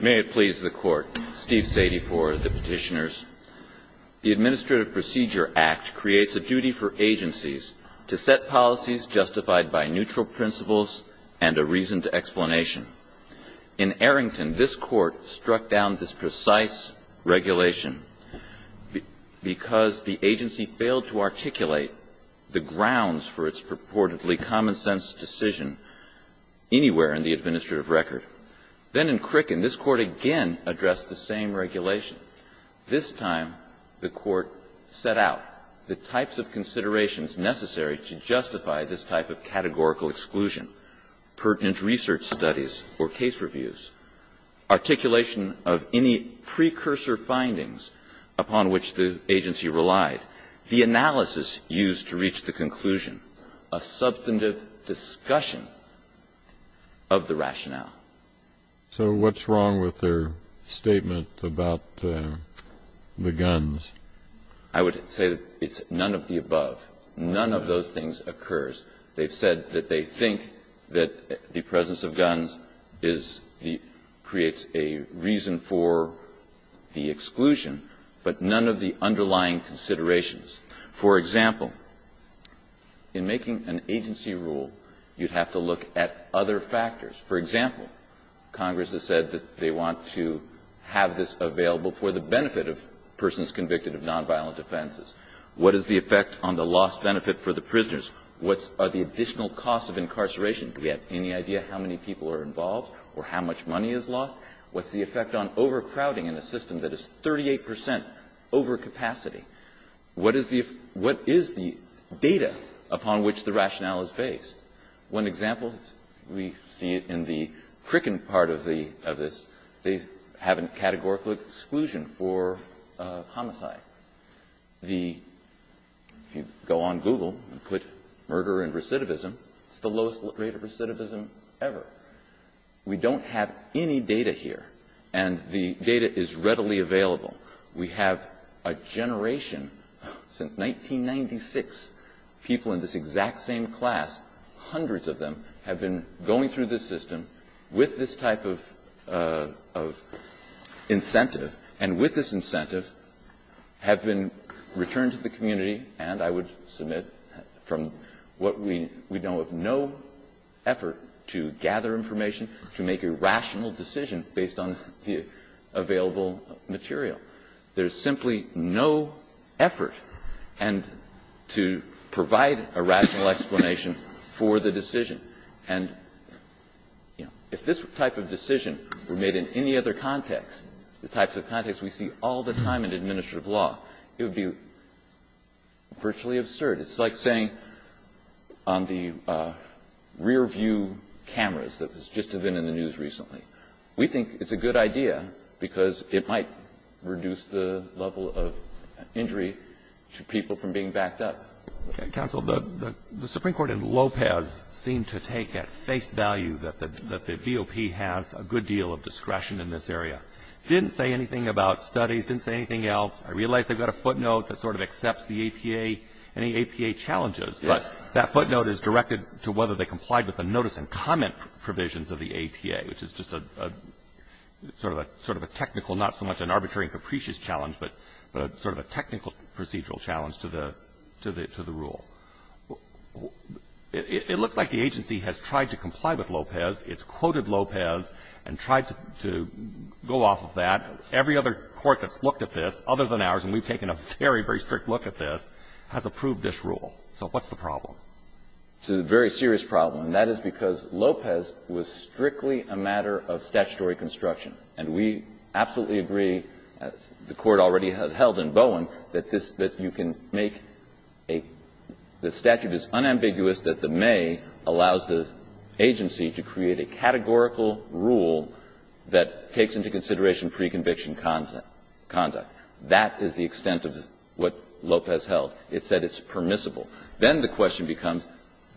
May it please the Court. Steve Sadie for the Petitioners. The Administrative Procedure Act creates a duty for agencies to set policies justified by neutral principles and a reason to explanation. In Arrington, this Court struck down this precise regulation because the agency failed to articulate the grounds for its purportedly common-sense decision anywhere in the administrative record. Then in Crickin, this Court again addressed the same regulation. This time, the Court set out the types of considerations necessary to justify this type of categorical exclusion. Pertinent research studies or case reviews. Articulation of any precursor findings upon which the agency relied. The analysis used to reach the conclusion. A substantive discussion of the rationale. So what's wrong with their statement about the guns? I would say it's none of the above. None of those things occurs. They've said that they think that the presence of guns is the – creates a reason for the exclusion, but none of the underlying considerations. For example, in making an agency rule, you'd have to look at other factors. For example, Congress has said that they want to have this available for the benefit of persons convicted of nonviolent offenses. What are the additional costs of incarceration? Do we have any idea how many people are involved or how much money is lost? What's the effect on overcrowding in a system that is 38 percent overcapacity? What is the data upon which the rationale is based? One example we see in the Crickin part of this, they have a categorical exclusion for homicide. The – if you go on Google and put murder and recidivism, it's the lowest rate of recidivism ever. We don't have any data here, and the data is readily available. We have a generation, since 1996, people in this exact same class, hundreds of them, have been going through this system with this type of incentive, and with this incentive have been returned to the community. And I would submit from what we know of no effort to gather information, to make a rational decision based on the available material. There is simply no effort to provide a rational explanation for the decision. And, you know, if this type of decision were made in any other context, the types of context we see all the time in administrative law, it would be virtually absurd. It's like saying on the rearview cameras that just have been in the news recently. We think it's a good idea because it might reduce the level of injury to people from being backed up. Roberts. The Supreme Court in Lopez seemed to take at face value that the BOP has a good deal of discretion in this area. It didn't say anything about studies. It didn't say anything else. I realize they've got a footnote that sort of accepts the APA, any APA challenges. But that footnote is directed to whether they complied with the notice and comment provisions of the APA, which is just a sort of a technical, not so much an arbitrary and capricious challenge, but sort of a technical procedural challenge to the rule. It looks like the agency has tried to comply with Lopez. It's quoted Lopez and tried to go off of that. Every other court that's looked at this, other than ours, and we've taken a very, very strict look at this, has approved this rule. So what's the problem? It's a very serious problem. And that is because Lopez was strictly a matter of statutory construction. And we absolutely agree, as the Court already held in Bowen, that this, that you can make a – the statute is unambiguous that the may allows the agency to create a categorical rule that takes into consideration pre-conviction conduct. That is the extent of what Lopez held. It said it's permissible. Then the question becomes,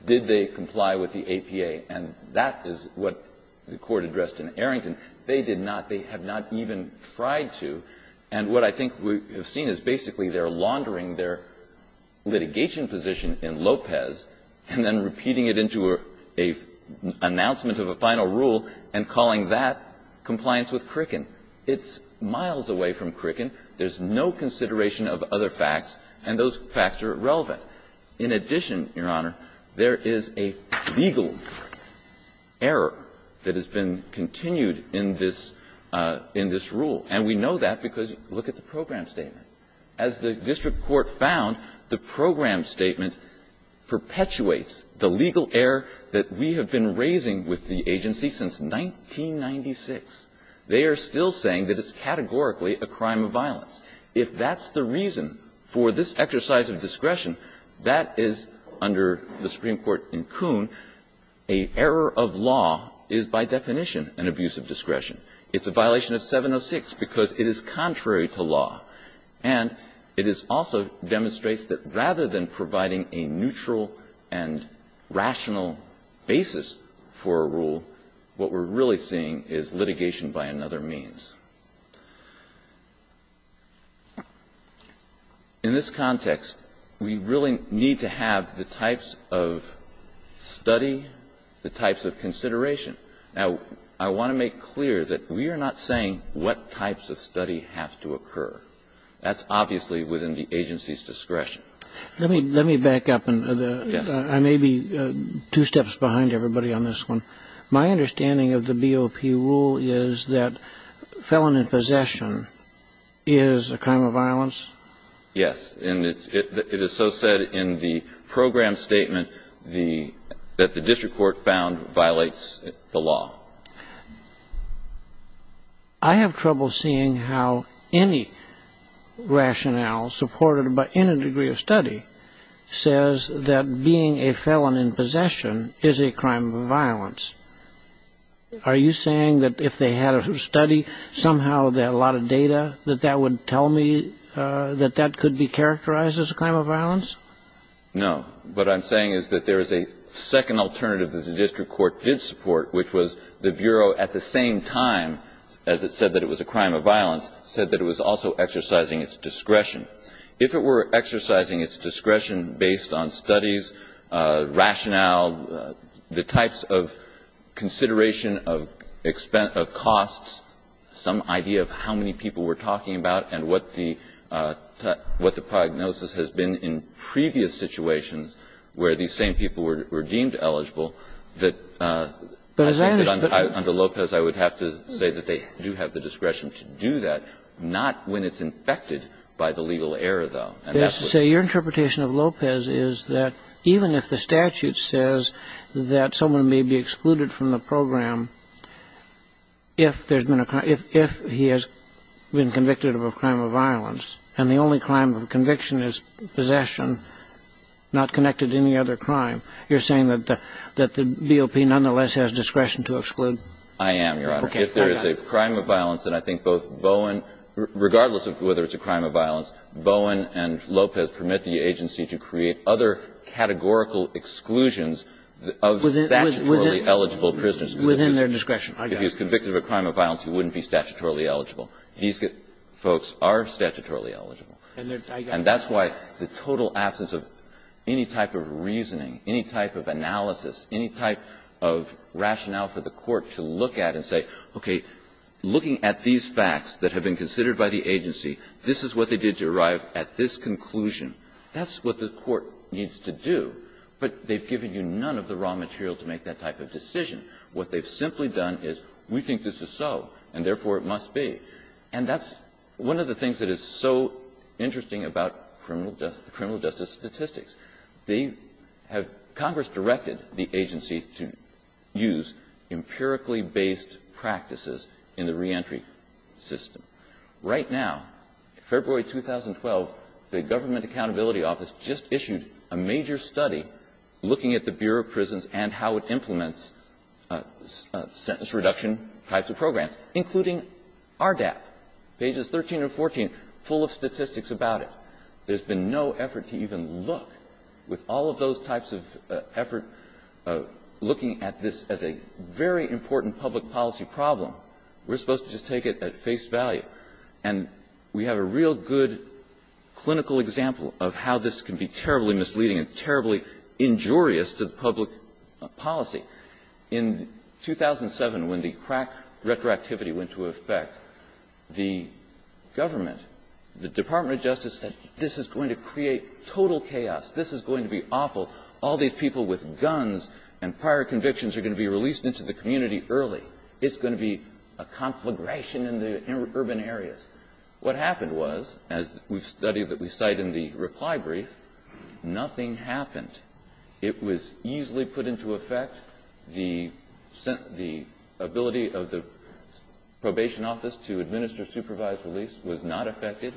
did they comply with the APA? And that is what the Court addressed in Arrington. They did not. They have not even tried to. And what I think we have seen is basically they're laundering their litigation position in Lopez and then repeating it into a announcement of a final rule and calling that compliance with Crickin. It's miles away from Crickin. There's no consideration of other facts, and those facts are irrelevant. In addition, Your Honor, there is a legal error that has been continued in this rule. And we know that because look at the program statement. As the district court found, the program statement perpetuates the legal error that we have been raising with the agency since 1996. They are still saying that it's categorically a crime of violence. If that's the reason for this exercise of discretion, that is, under the Supreme Court in Kuhn, an error of law is by definition an abuse of discretion. It's a violation of 706 because it is contrary to law. And it is also demonstrates that rather than providing a neutral and rational basis for a rule, what we're really seeing is litigation by another means. In this context, we really need to have the types of study, the types of consideration. Now, I want to make clear that we are not saying what types of study have to occur. That's obviously within the agency's discretion. Let me back up. I may be two steps behind everybody on this one. My understanding of the BOP rule is that felon in possession is a crime of violence? Yes. It is so said in the program statement that the district court found violates the law. I have trouble seeing how any rationale supported in a degree of study says that being a felon in possession is a crime of violence. Are you saying that if they had a study somehow that a lot of data that that would tell me that that could be characterized as a crime of violence? No. What I'm saying is that there is a second alternative that the district court did support, which was the Bureau at the same time, as it said that it was a crime of violence, said that it was also exercising its discretion. If it were exercising its discretion based on studies, rationale, the types of consideration of costs, some idea of how many people we're talking about and what the prognosis has been in previous situations where these same people were deemed eligible, that I think that under Lopez I would have to say that they do have the discretion to do that, not when it's infected by the legal error, though. So your interpretation of Lopez is that even if the statute says that someone may be excluded from the program if there's been a crime, if he has been convicted of a crime of violence and the only crime of conviction is possession not connected to any other crime, you're saying that the BOP nonetheless has discretion to exclude? I am, Your Honor. If there is a crime of violence, then I think both Bowen, regardless of whether it's a crime of violence, Bowen and Lopez permit the agency to create other categorical exclusions of statutorily eligible prisoners. Within their discretion. If he's convicted of a crime of violence, he wouldn't be statutorily eligible. These folks are statutorily eligible. And that's why the total absence of any type of reasoning, any type of analysis, any type of rationale for the court to look at and say, okay, looking at these facts that have been considered by the agency, this is what they did to arrive at this conclusion, that's what the court needs to do. But they've given you none of the raw material to make that type of decision. What they've simply done is, we think this is so, and therefore it must be. And that's one of the things that is so interesting about criminal justice statistics. They have – Congress directed the agency to use empirically based practices in the reentry system. Right now, February 2012, the Government Accountability Office just issued a major study looking at the Bureau of Prisons and how it implements sentence reduction types of programs, including RDAP, pages 13 and 14, full of statistics about it. There's been no effort to even look. With all of those types of effort, looking at this as a very important public policy problem, we're supposed to just take it at face value. And we have a real good clinical example of how this can be terribly misleading and terribly injurious to the public policy. In 2007, when the crack retroactivity went into effect, the government, the Department of Justice said, this is going to create total chaos, this is going to be awful, all these people with guns and prior convictions are going to be released into the community early, it's going to be a conflagration in the urban areas. What happened was, as we've studied that we cite in the reply brief, nothing happened. It was easily put into effect. The ability of the probation office to administer supervised release was not affected,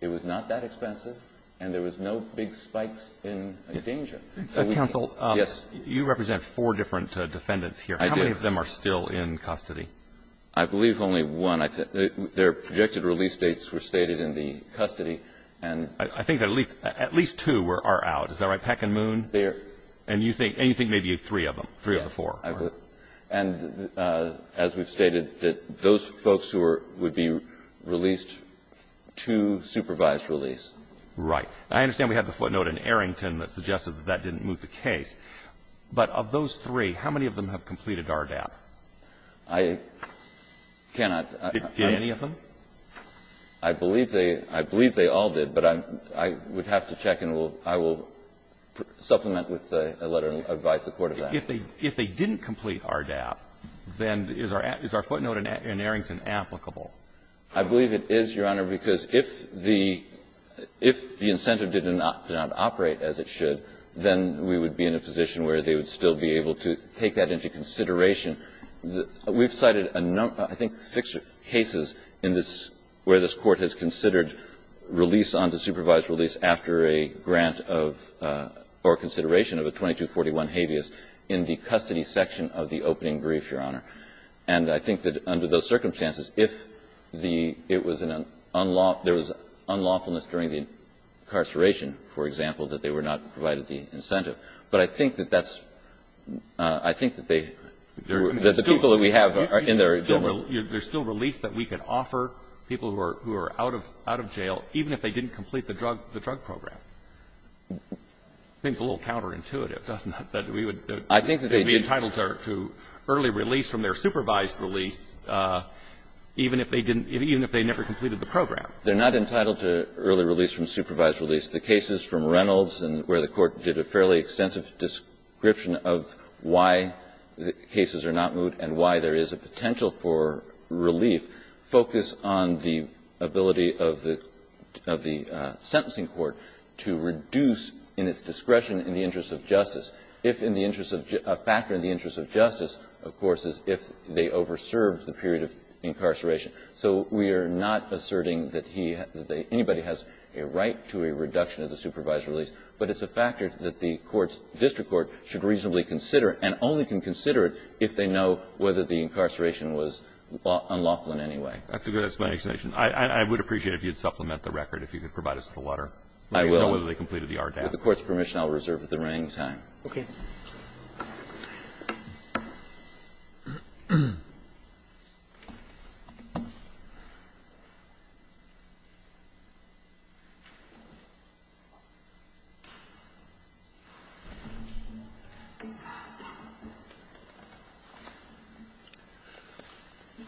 it was not that expensive, and there was no big spikes in danger. So we can't Counsel, you represent four different defendants here. I do. How many of them are still in custody? I believe only one. Their projected release dates were stated in the custody. I think at least two are out. Is that right? Peck and Moon? They're there. And you think maybe three of them, three of the four. And as we've stated, those folks who would be released to supervised release. Right. I understand we had the footnote in Arrington that suggested that that didn't move the case. But of those three, how many of them have completed RDAP? I cannot. Did you get any of them? I believe they all did, but I would have to check and I will supplement with a letter of advice in support of that. If they didn't complete RDAP, then is our footnote in Arrington applicable? I believe it is, Your Honor, because if the incentive did not operate as it should, then we would be in a position where they would still be able to take that into consideration. We've cited a number, I think six cases in this, where this Court has considered release on the supervised release after a grant of, or consideration of a 2241 habeas in the custody section of the opening brief, Your Honor. And I think that under those circumstances, if the, it was an unlawful, there was unlawfulness during the incarceration, for example, that they were not provided the incentive. But I think that that's, I think that they, that the people that we have are in their normal. There's still relief that we could offer people who are out of jail, even if they didn't complete the drug program. Seems a little counterintuitive, doesn't it, that we would be entitled to early release from their supervised release, even if they didn't, even if they never completed the program. They're not entitled to early release from supervised release. The cases from Reynolds, where the Court did a fairly extensive description of why the cases are not moved and why there is a potential for relief, focus on the ability of the, of the sentencing court to reduce, in its discretion, in the interest of justice, if in the interest of, a factor in the interest of justice, of course, is if they overserved the period of incarceration. So we are not asserting that he, that anybody has a right to a reduction of the supervised release, but it's a factor that the courts, district court, should reasonably consider and only can consider it if they know whether the incarceration was unlawful in any way. That's a good explanation. I would appreciate it if you'd supplement the record, if you could provide us with the water. I will. Let me know whether they completed the RDAF. With the Court's permission, I'll reserve it at the running time. Okay.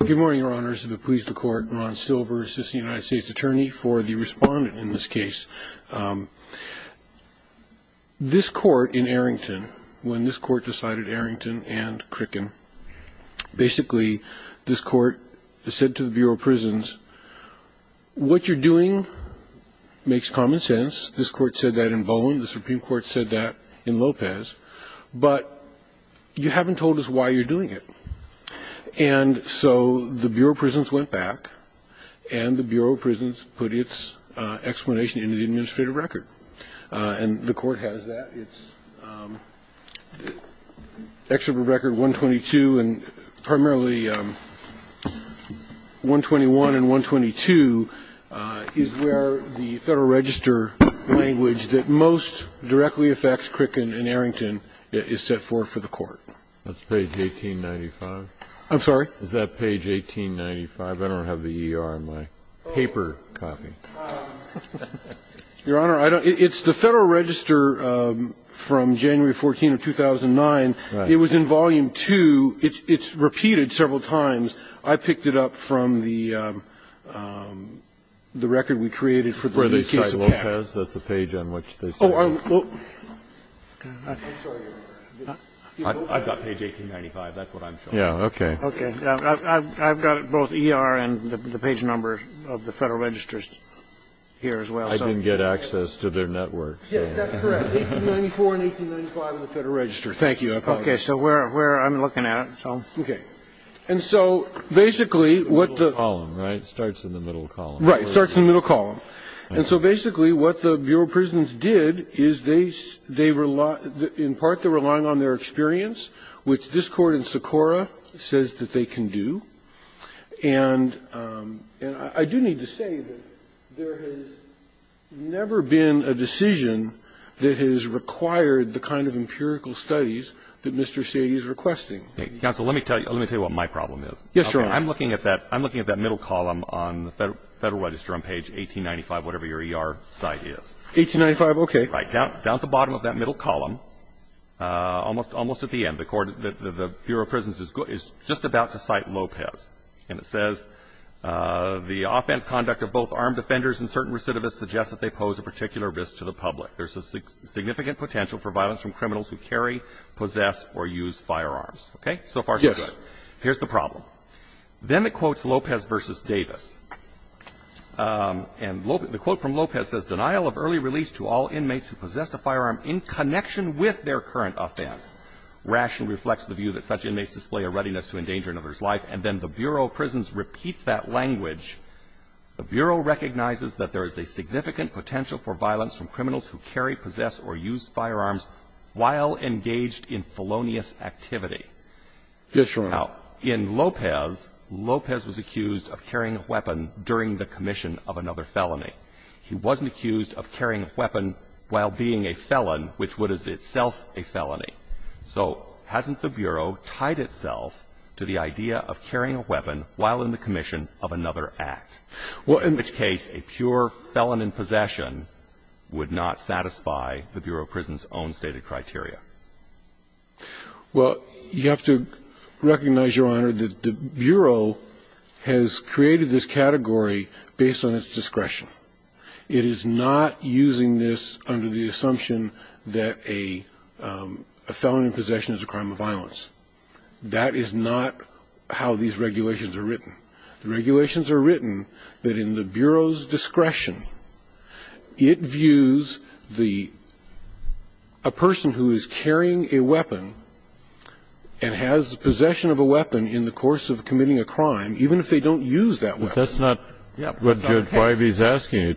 Good morning, Your Honors. If it please the Court, Ron Silver, Assistant United States Attorney for the Respondent in this case. This court in Arrington, when this court decided Arrington and Crickin, basically, this court said to the Bureau of Prisons, what you're doing makes common sense. This court said that in Bowen, the Supreme Court said that in Lopez, but you haven't told us why you're doing it. And so the Bureau of Prisons went back and the Bureau of Prisons put its explanation into the administrative record. And the Court has that. It's excerpt of Record 122 and primarily 121 and 122 is where the Federal Register language that most directly affects Crickin and Arrington is set forth for the Court. That's page 1895. I'm sorry? Is that page 1895? I better have the ER in my paper copy. Your Honor, it's the Federal Register from January 14 of 2009. It was in Volume 2. It's repeated several times. I picked it up from the record we created for the case of Peck. That's the page on which they said. I've got page 1895. That's what I'm showing. Okay. I've got both ER and the page number of the Federal Register here as well. I didn't get access to their network. Yes, that's correct. 1894 and 1895 of the Federal Register. Thank you. I apologize. Okay. So I'm looking at it. Okay. And so basically what the Right. It starts in the middle column. Right. It starts in the middle column. And so basically what the Bureau of Prisons did is they relied in part they were relying on their experience, which this Court in Socorro says that they can do. And I do need to say that there has never been a decision that has required the kind of empirical studies that Mr. Sadie is requesting. Counsel, let me tell you what my problem is. Yes, Your Honor. I'm looking at that middle column on the Federal Register on page 1895, whatever your ER site is. 1895, okay. Right. Down at the bottom of that middle column, almost at the end, the Bureau of Prisons is just about to cite Lopez. And it says, the offense conduct of both armed defenders and certain recidivists suggests that they pose a particular risk to the public. There's a significant potential for violence from criminals who carry, possess, or use firearms. Okay? So far so good. Yes. Here's the problem. Then it quotes Lopez v. Davis. And the quote from Lopez says, denial of early release to all inmates who possess a firearm in connection with their current offense. Ration reflects the view that such inmates display a readiness to endanger another's life. And then the Bureau of Prisons repeats that language. The Bureau recognizes that there is a significant potential for violence from criminals who carry, possess, or use firearms while engaged in felonious activity. Yes, Your Honor. Now, in Lopez, Lopez was accused of carrying a weapon during the commission of another felony. He wasn't accused of carrying a weapon while being a felon, which would as itself a felony. So hasn't the Bureau tied itself to the idea of carrying a weapon while in the commission of another act? Well, in which case, a pure felon in possession would not satisfy the Bureau of Prisons' own stated criteria. Well, you have to recognize, Your Honor, that the Bureau has created this category based on its discretion. It is not using this under the assumption that a felon in possession is a crime of violence. That is not how these regulations are written. The regulations are written that in the Bureau's discretion, it views the person who is carrying a weapon and has possession of a weapon in the course of committing a crime, even if they don't use that weapon. But that's not what Judge Wybie is asking.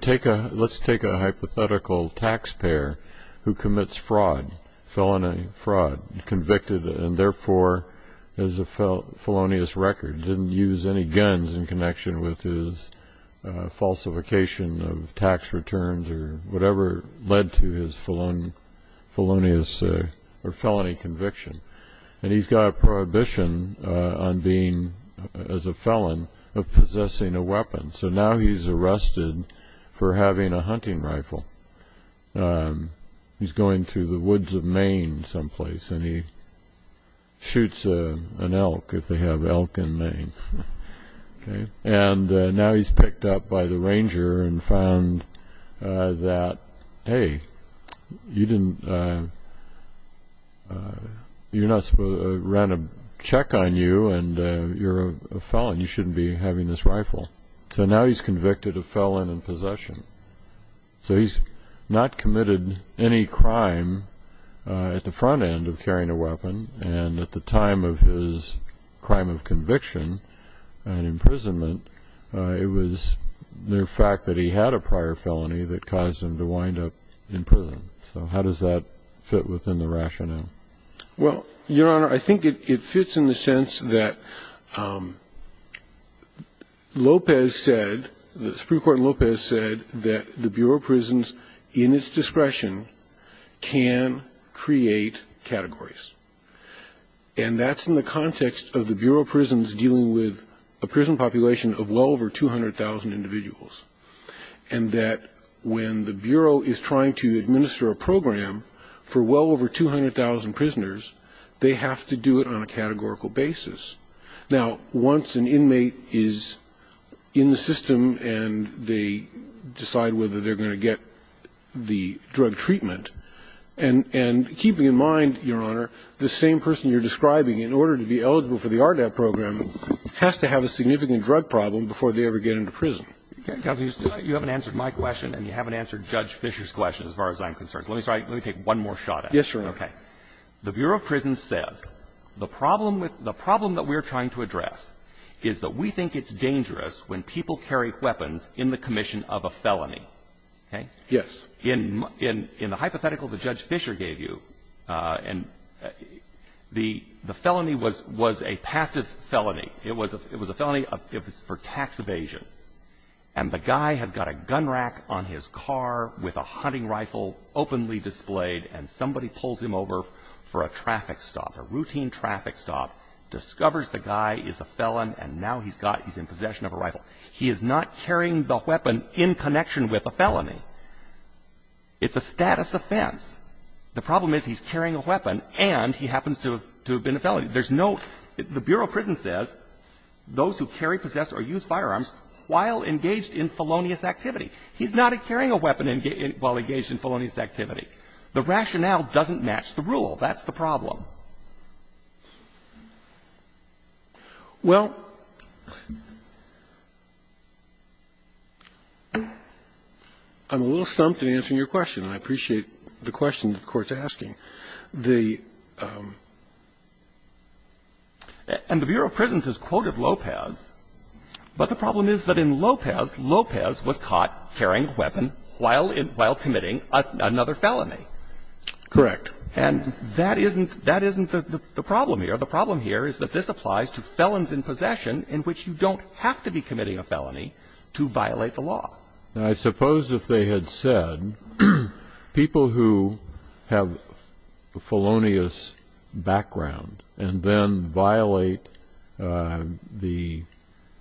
Let's take a hypothetical taxpayer who commits fraud, felony fraud, convicted and, therefore, has a felonious record, didn't use any guns in connection with his falsification of tax returns or whatever led to his felonious or felony conviction. And he's got a prohibition on being, as a felon, of possessing a weapon. So now he's arrested for having a hunting rifle. He's going through the woods of Maine someplace and he shoots an elk if they have elk in Maine. And now he's picked up by the ranger and found that, hey, you didn't, you're not supposed to run a check on you and you're a felon, you shouldn't be having this rifle. So now he's convicted of felon in possession. So he's not committed any crime at the front end of carrying a weapon, and at the time of his crime of conviction and imprisonment, it was the fact that he had a prior felony that caused him to wind up in prison. So how does that fit within the rationale? Well, Your Honor, I think it fits in the sense that Lopez said, the Supreme Court in Lopez said that the Bureau of Prisons, in its discretion, can create categories. And that's in the context of the Bureau of Prisons dealing with a prison population of well over 200,000 individuals. And that when the Bureau is trying to administer a program for well over 200,000 prisoners, they have to do it on a categorical basis. Now, once an inmate is in the system and they decide whether they're going to get the same person you're describing in order to be eligible for the RDAP program, has to have a significant drug problem before they ever get into prison. You haven't answered my question, and you haven't answered Judge Fischer's question as far as I'm concerned. Let me take one more shot at it. Yes, Your Honor. Okay. The Bureau of Prisons says the problem that we're trying to address is that we think it's dangerous when people carry weapons in the commission of a felony, okay? Yes. In the hypothetical that Judge Fischer gave you, the felony was a passive felony. It was a felony for tax evasion. And the guy has got a gun rack on his car with a hunting rifle openly displayed, and somebody pulls him over for a traffic stop, a routine traffic stop, discovers the guy is a felon, and now he's got his possession of a rifle. It's a status offense. The problem is he's carrying a weapon and he happens to have been a felony. There's no – the Bureau of Prisons says those who carry, possess, or use firearms while engaged in felonious activity. He's not carrying a weapon while engaged in felonious activity. The rationale doesn't match the rule. That's the problem. Well, I'm a little stumped in answering your question, and I appreciate the question the Court's asking. The – and the Bureau of Prisons has quoted Lopez, but the problem is that in Lopez, Lopez was caught carrying a weapon while committing another felony. Correct. And that isn't – that isn't the problem here. The problem here is that this applies to felons in possession in which you don't have to be committing a felony to violate the law. I suppose if they had said people who have a felonious background and then violate the –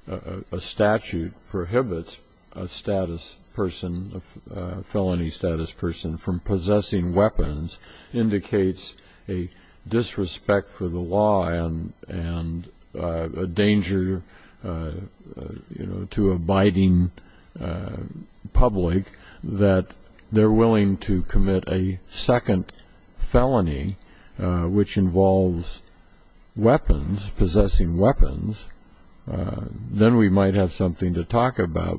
a statute prohibits a status person, a felony status person, from possessing weapons indicates a disrespect for the law and a danger, you know, to abiding public that they're possessing weapons, then we might have something to talk about.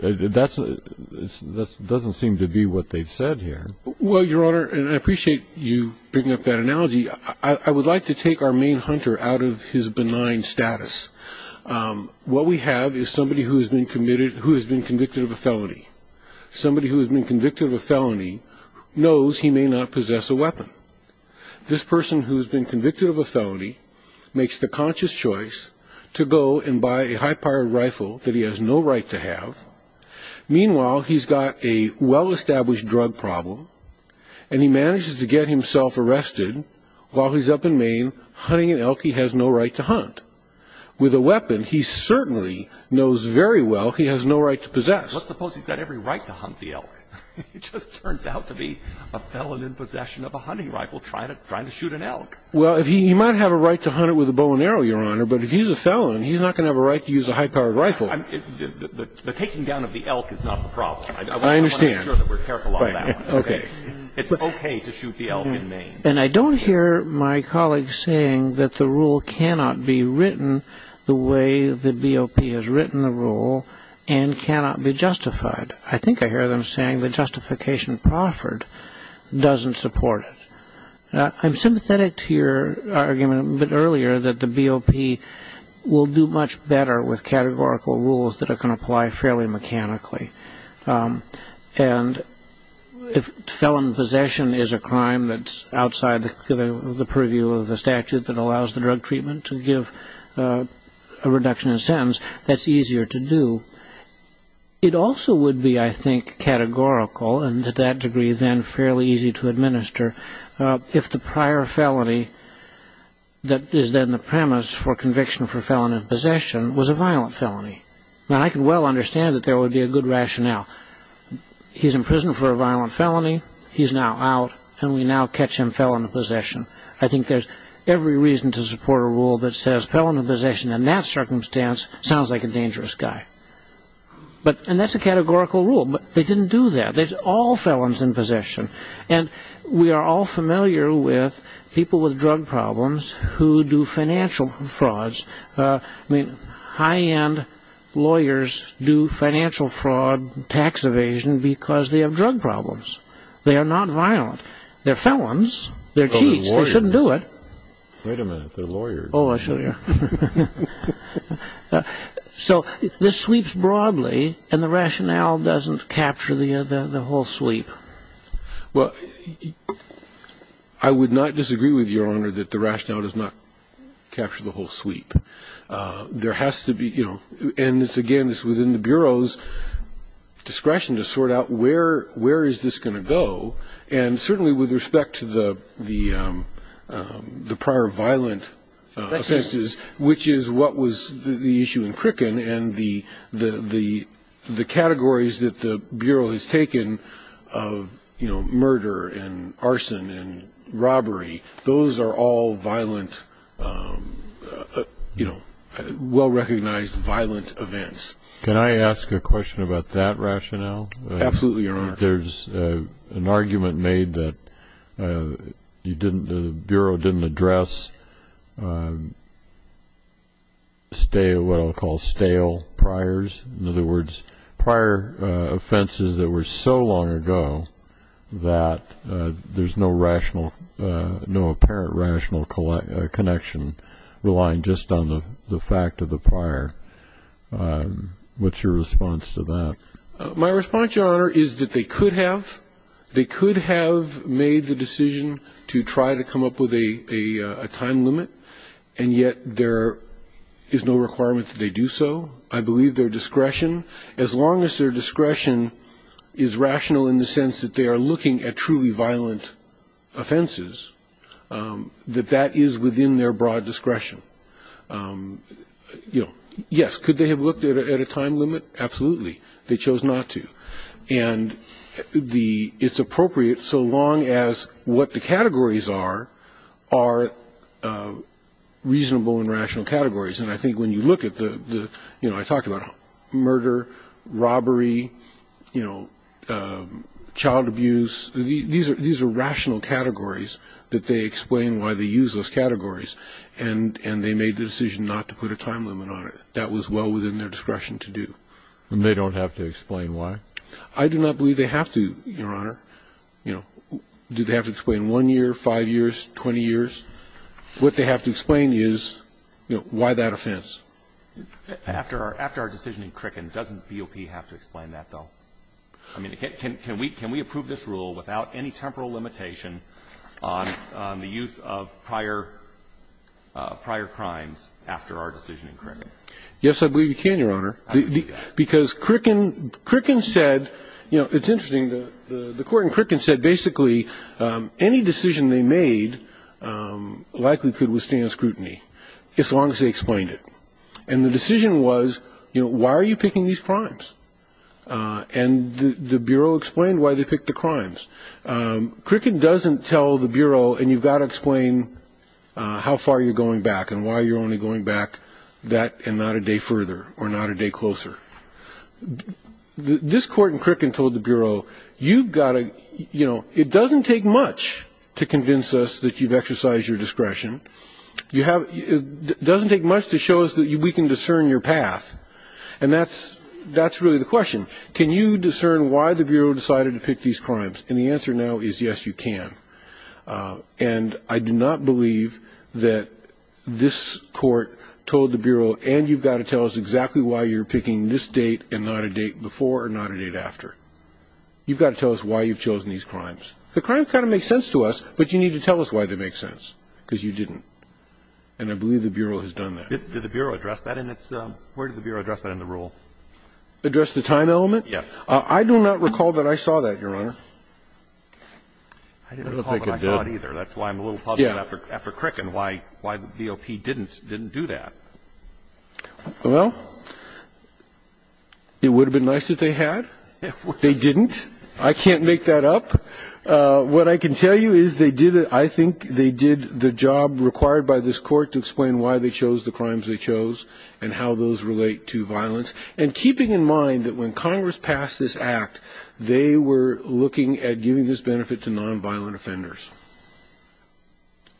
That's – that doesn't seem to be what they've said here. Well, Your Honor, and I appreciate you bringing up that analogy, I would like to take our main hunter out of his benign status. What we have is somebody who has been committed – who has been convicted of a felony. Somebody who has been convicted of a felony knows he may not possess a weapon. This person who has been convicted of a felony makes the conscious choice to go and buy a high-powered rifle that he has no right to have. Meanwhile, he's got a well-established drug problem and he manages to get himself arrested while he's up in Maine hunting an elk he has no right to hunt. With a weapon he certainly knows very well he has no right to possess. Let's suppose he's got every right to hunt the elk. It just turns out to be a felon in possession of a hunting rifle trying to shoot an elk. Well, he might have a right to hunt it with a bow and arrow, Your Honor, but if he's a felon, he's not going to have a right to use a high-powered rifle. The taking down of the elk is not the problem. I understand. I want to make sure that we're careful on that one. Okay. It's okay to shoot the elk in Maine. And I don't hear my colleagues saying that the rule cannot be written the way the BOP has written the rule and cannot be justified. I think I hear them saying the justification proffered doesn't support it. I'm sympathetic to your argument a bit earlier that the BOP will do much better with categorical rules that it can apply fairly mechanically. And if felon possession is a crime that's outside the purview of the statute that allows the drug treatment to give a reduction in sentence, that's easier to do. It also would be, I think, categorical and to that degree then fairly easy to administer if the prior felony that is then the premise for conviction for felon in possession was a violent felony. Now, I can well understand that there would be a good rationale. He's in prison for a violent felony. He's now out. And we now catch him felon in possession. I think there's every reason to support a rule that says felon in possession in that And that's a categorical rule. But they didn't do that. There's all felons in possession. And we are all familiar with people with drug problems who do financial frauds. I mean, high end lawyers do financial fraud tax evasion because they have drug problems. They are not violent. They're felons. They're cheats. They shouldn't do it. Wait a minute. They're lawyers. Oh, I show you. So this sweeps broadly. And the rationale doesn't capture the whole sweep. Well, I would not disagree with Your Honor that the rationale does not capture the whole There has to be, you know, and it's, again, it's within the Bureau's discretion to sort out where is this going to go. Which is what was the issue in Crickin and the categories that the Bureau has taken of, you know, murder and arson and robbery. Those are all violent, you know, well-recognized violent events. Can I ask a question about that rationale? Absolutely, Your Honor. There's an argument made that you didn't, the Bureau didn't address what I'll call stale priors. In other words, prior offenses that were so long ago that there's no rational, no apparent rational connection relying just on the fact of the prior. What's your response to that? My response, Your Honor, is that they could have. They could have made the decision to try to come up with a time limit. And yet there is no requirement that they do so. I believe their discretion, as long as their discretion is rational in the sense that they are looking at truly violent offenses, that that is within their broad discretion. Yes, could they have looked at a time limit? Absolutely. They chose not to. And the, it's appropriate so long as what the categories are, are reasonable and rational categories. And I think when you look at the, you know, I talked about murder, robbery, you know, child abuse, these are rational categories that they explain why they use those categories. And they made the decision not to put a time limit on it. That was well within their discretion to do. And they don't have to explain why? I do not believe they have to, Your Honor. You know, do they have to explain 1 year, 5 years, 20 years? What they have to explain is, you know, why that offense. After our decision in Cricken, doesn't BOP have to explain that, though? I mean, can we approve this rule without any temporal limitation on the use of prior crimes after our decision in Cricken? Yes, I believe you can, Your Honor. How do you do that? Because Cricken said, you know, it's interesting. The court in Cricken said basically any decision they made likely could withstand scrutiny as long as they explained it. And the decision was, you know, why are you picking these crimes? And the Bureau explained why they picked the crimes. Cricken doesn't tell the Bureau, and you've got to explain how far you're going back and why you're only going back that and not a day further or not a day closer. This court in Cricken told the Bureau, you've got to, you know, it doesn't take much to convince us that you've exercised your discretion. It doesn't take much to show us that we can discern your path. And that's really the question. Can you discern why the Bureau decided to pick these crimes? And the answer now is yes, you can. And I do not believe that this court told the Bureau, and you've got to tell us exactly why you're picking this date and not a date before or not a date after. You've got to tell us why you've chosen these crimes. The crimes kind of make sense to us, but you need to tell us why they make sense, because you didn't. And I believe the Bureau has done that. Address the time element? Yes. I do not recall that I saw that, Your Honor. I don't recall that I saw it either. That's why I'm a little puzzled after Cricken why the BOP didn't do that. Well, it would have been nice if they had. They didn't. I can't make that up. What I can tell you is they did it, I think they did the job required by this court to explain why they chose the crimes they chose and how those relate to violence. And keeping in mind that when Congress passed this Act, they were looking at giving this benefit to nonviolent offenders.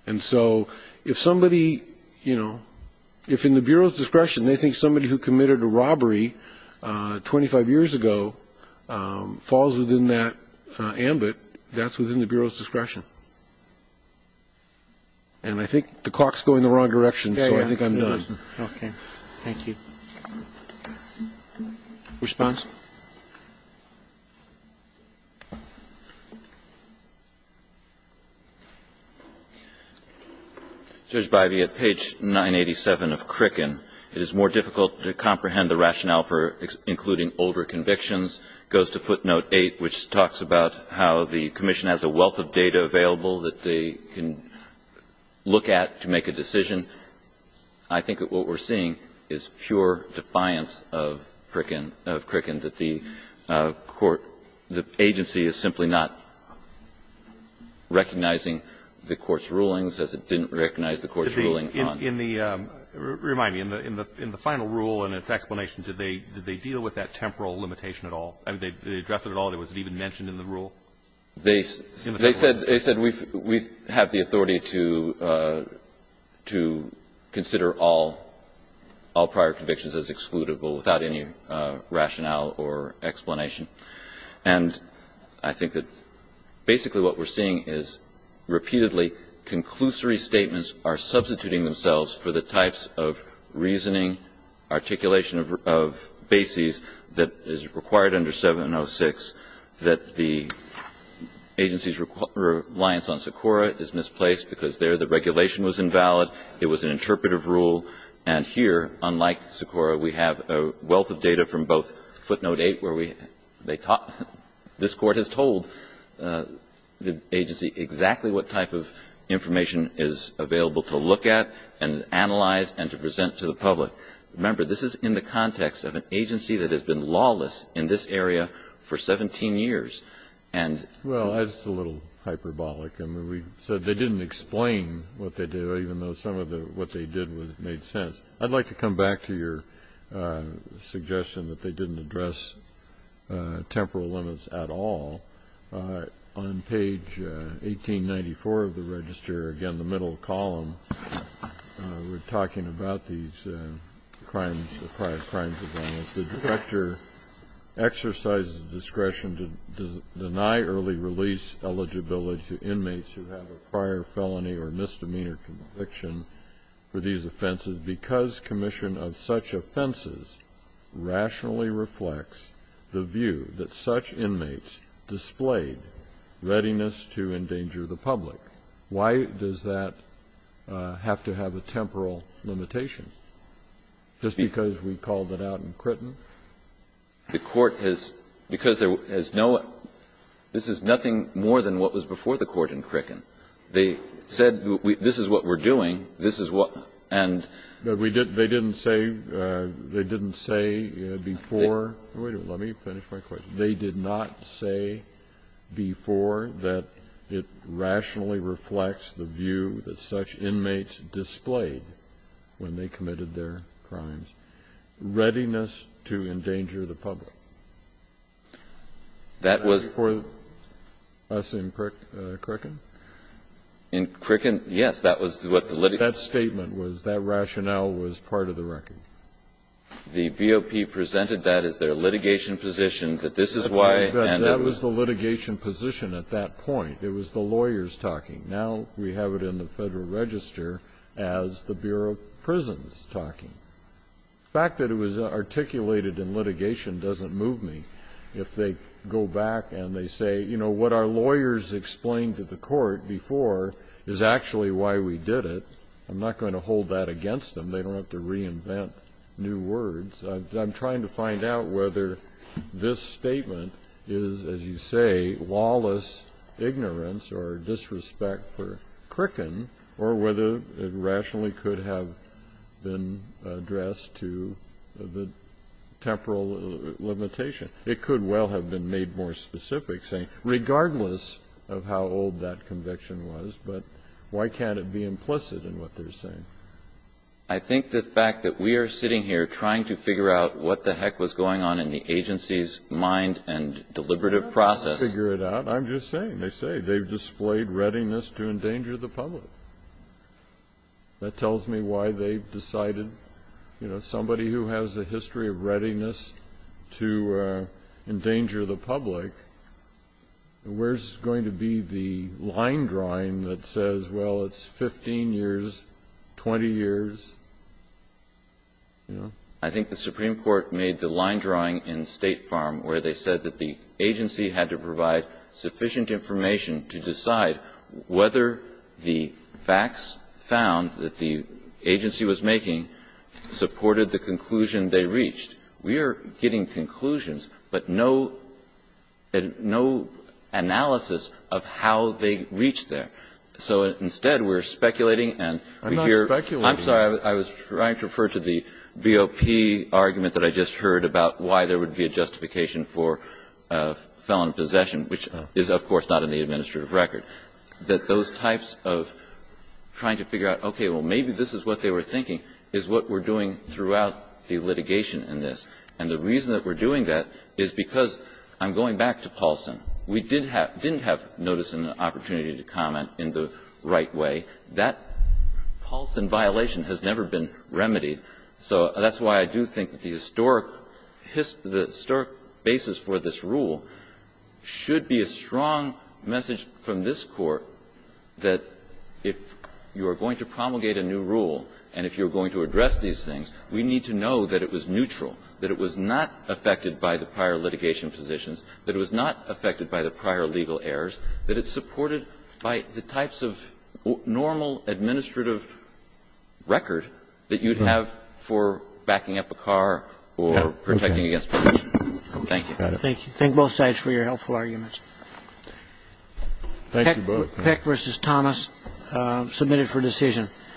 And so if somebody, you know, if in the Bureau's discretion they think somebody who committed a robbery 25 years ago falls within that ambit, that's within the Bureau's discretion. And I think the clock's going in the wrong direction, so I think I'm done. Okay. Thank you. Response? Judge Bivey, at page 987 of Cricken, it is more difficult to comprehend the rationale for including older convictions. It goes to footnote 8, which talks about how the Commission has a wealth of data available that they can look at to make a decision. I think that what we're seeing is pure defiance of Cricken, of Cricken, that the Court, the agency is simply not recognizing the Court's rulings as it didn't recognize the Court's ruling on it. In the, remind me, in the final rule and its explanation, did they deal with that temporal limitation at all? I mean, did they address it at all? Was it even mentioned in the rule? They said we have the authority to consider all prior convictions as excludable without any rationale or explanation. And I think that basically what we're seeing is repeatedly conclusory statements are substituting themselves for the types of reasoning, articulation of bases that is required under 706, that the agency's reliance on Sikora is misplaced because there the regulation was invalid, it was an interpretive rule, and here, unlike Sikora, we have a wealth of data from both footnote 8 where we, they, this Court has told the agency exactly what type of information is available to look at and analyze and to present to the public. Remember, this is in the context of an agency that has been lawless in this area for 17 years, and. Well, that's a little hyperbolic. I mean, we said they didn't explain what they did, even though some of what they did made sense. I'd like to come back to your suggestion that they didn't address temporal limits at all. On page 1894 of the register, again, the middle column, we're talking about these crimes, the prior crimes of violence, the director exercises discretion to deny early release eligibility to inmates who have a prior felony or misdemeanor conviction for these offenses because commission of such offenses rationally reflects the view that such inmates displayed readiness to endanger the public. Why does that have to have a temporal limitation? Just because we called it out in Crickin? The Court has, because there is no, this is nothing more than what was before the Court in Crickin. They said this is what we're doing, this is what, and. But we didn't, they didn't say, they didn't say before, wait a minute, let me finish my question. They did not say before that it rationally reflects the view that such inmates displayed when they committed their crimes. Readiness to endanger the public. That was. Before us in Crickin? In Crickin, yes, that was what the litigation. That statement was, that rationale was part of the record. The BOP presented that as their litigation position, that this is why. That was the litigation position at that point. It was the lawyers talking. Now we have it in the Federal Register as the Bureau of Prisons talking. The fact that it was articulated in litigation doesn't move me. If they go back and they say, you know, what our lawyers explained to the Court before is actually why we did it. I'm not going to hold that against them. They don't have to reinvent new words. I'm trying to find out whether this statement is, as you say, lawless ignorance or disrespect for Crickin, or whether it rationally could have been addressed to the temporal limitation. It could well have been made more specific, saying, regardless of how old that conviction was, but why can't it be implicit in what they're saying? I think the fact that we are sitting here trying to figure out what the heck was going on in the agency's mind and deliberative process. I'm not trying to figure it out. I'm just saying. They say they've displayed readiness to endanger the public. That tells me why they've decided, you know, somebody who has a history of readiness to endanger the public, where's going to be the line drawing that says, well, it's 15 years, 20 years, you know? I think the Supreme Court made the line drawing in State Farm where they said that the agency had to provide sufficient information to decide whether the facts found that the agency was making supported the conclusion they reached. We are getting conclusions, but no analysis of how they reached there. So instead, we're speculating and we hear the BOP argument that I just heard about why there would be a justification for felon possession, which is of course not in the administrative record, that those types of trying to figure out, okay, well, maybe this is what they were thinking, is what we're doing throughout the litigation in this, and the reason that we're doing that is because I'm going back to Paulson. We didn't have notice and opportunity to comment in the right way. That Paulson violation has never been remedied, so that's why I do think the historic basis for this rule should be a strong message from this Court that if you are going to promulgate a new rule and if you're going to address these things, we need to know that it was neutral, that it was not affected by the prior litigation positions, that it was not affected by the prior legal errors, that it's supported by the types of normal administrative record that you'd have for backing up a car or protecting against possession. Thank you. Roberts. Thank you. Thank you. Thank both sides for your helpful arguments. Thank you both. Peck v. Thomas, submitted for decision.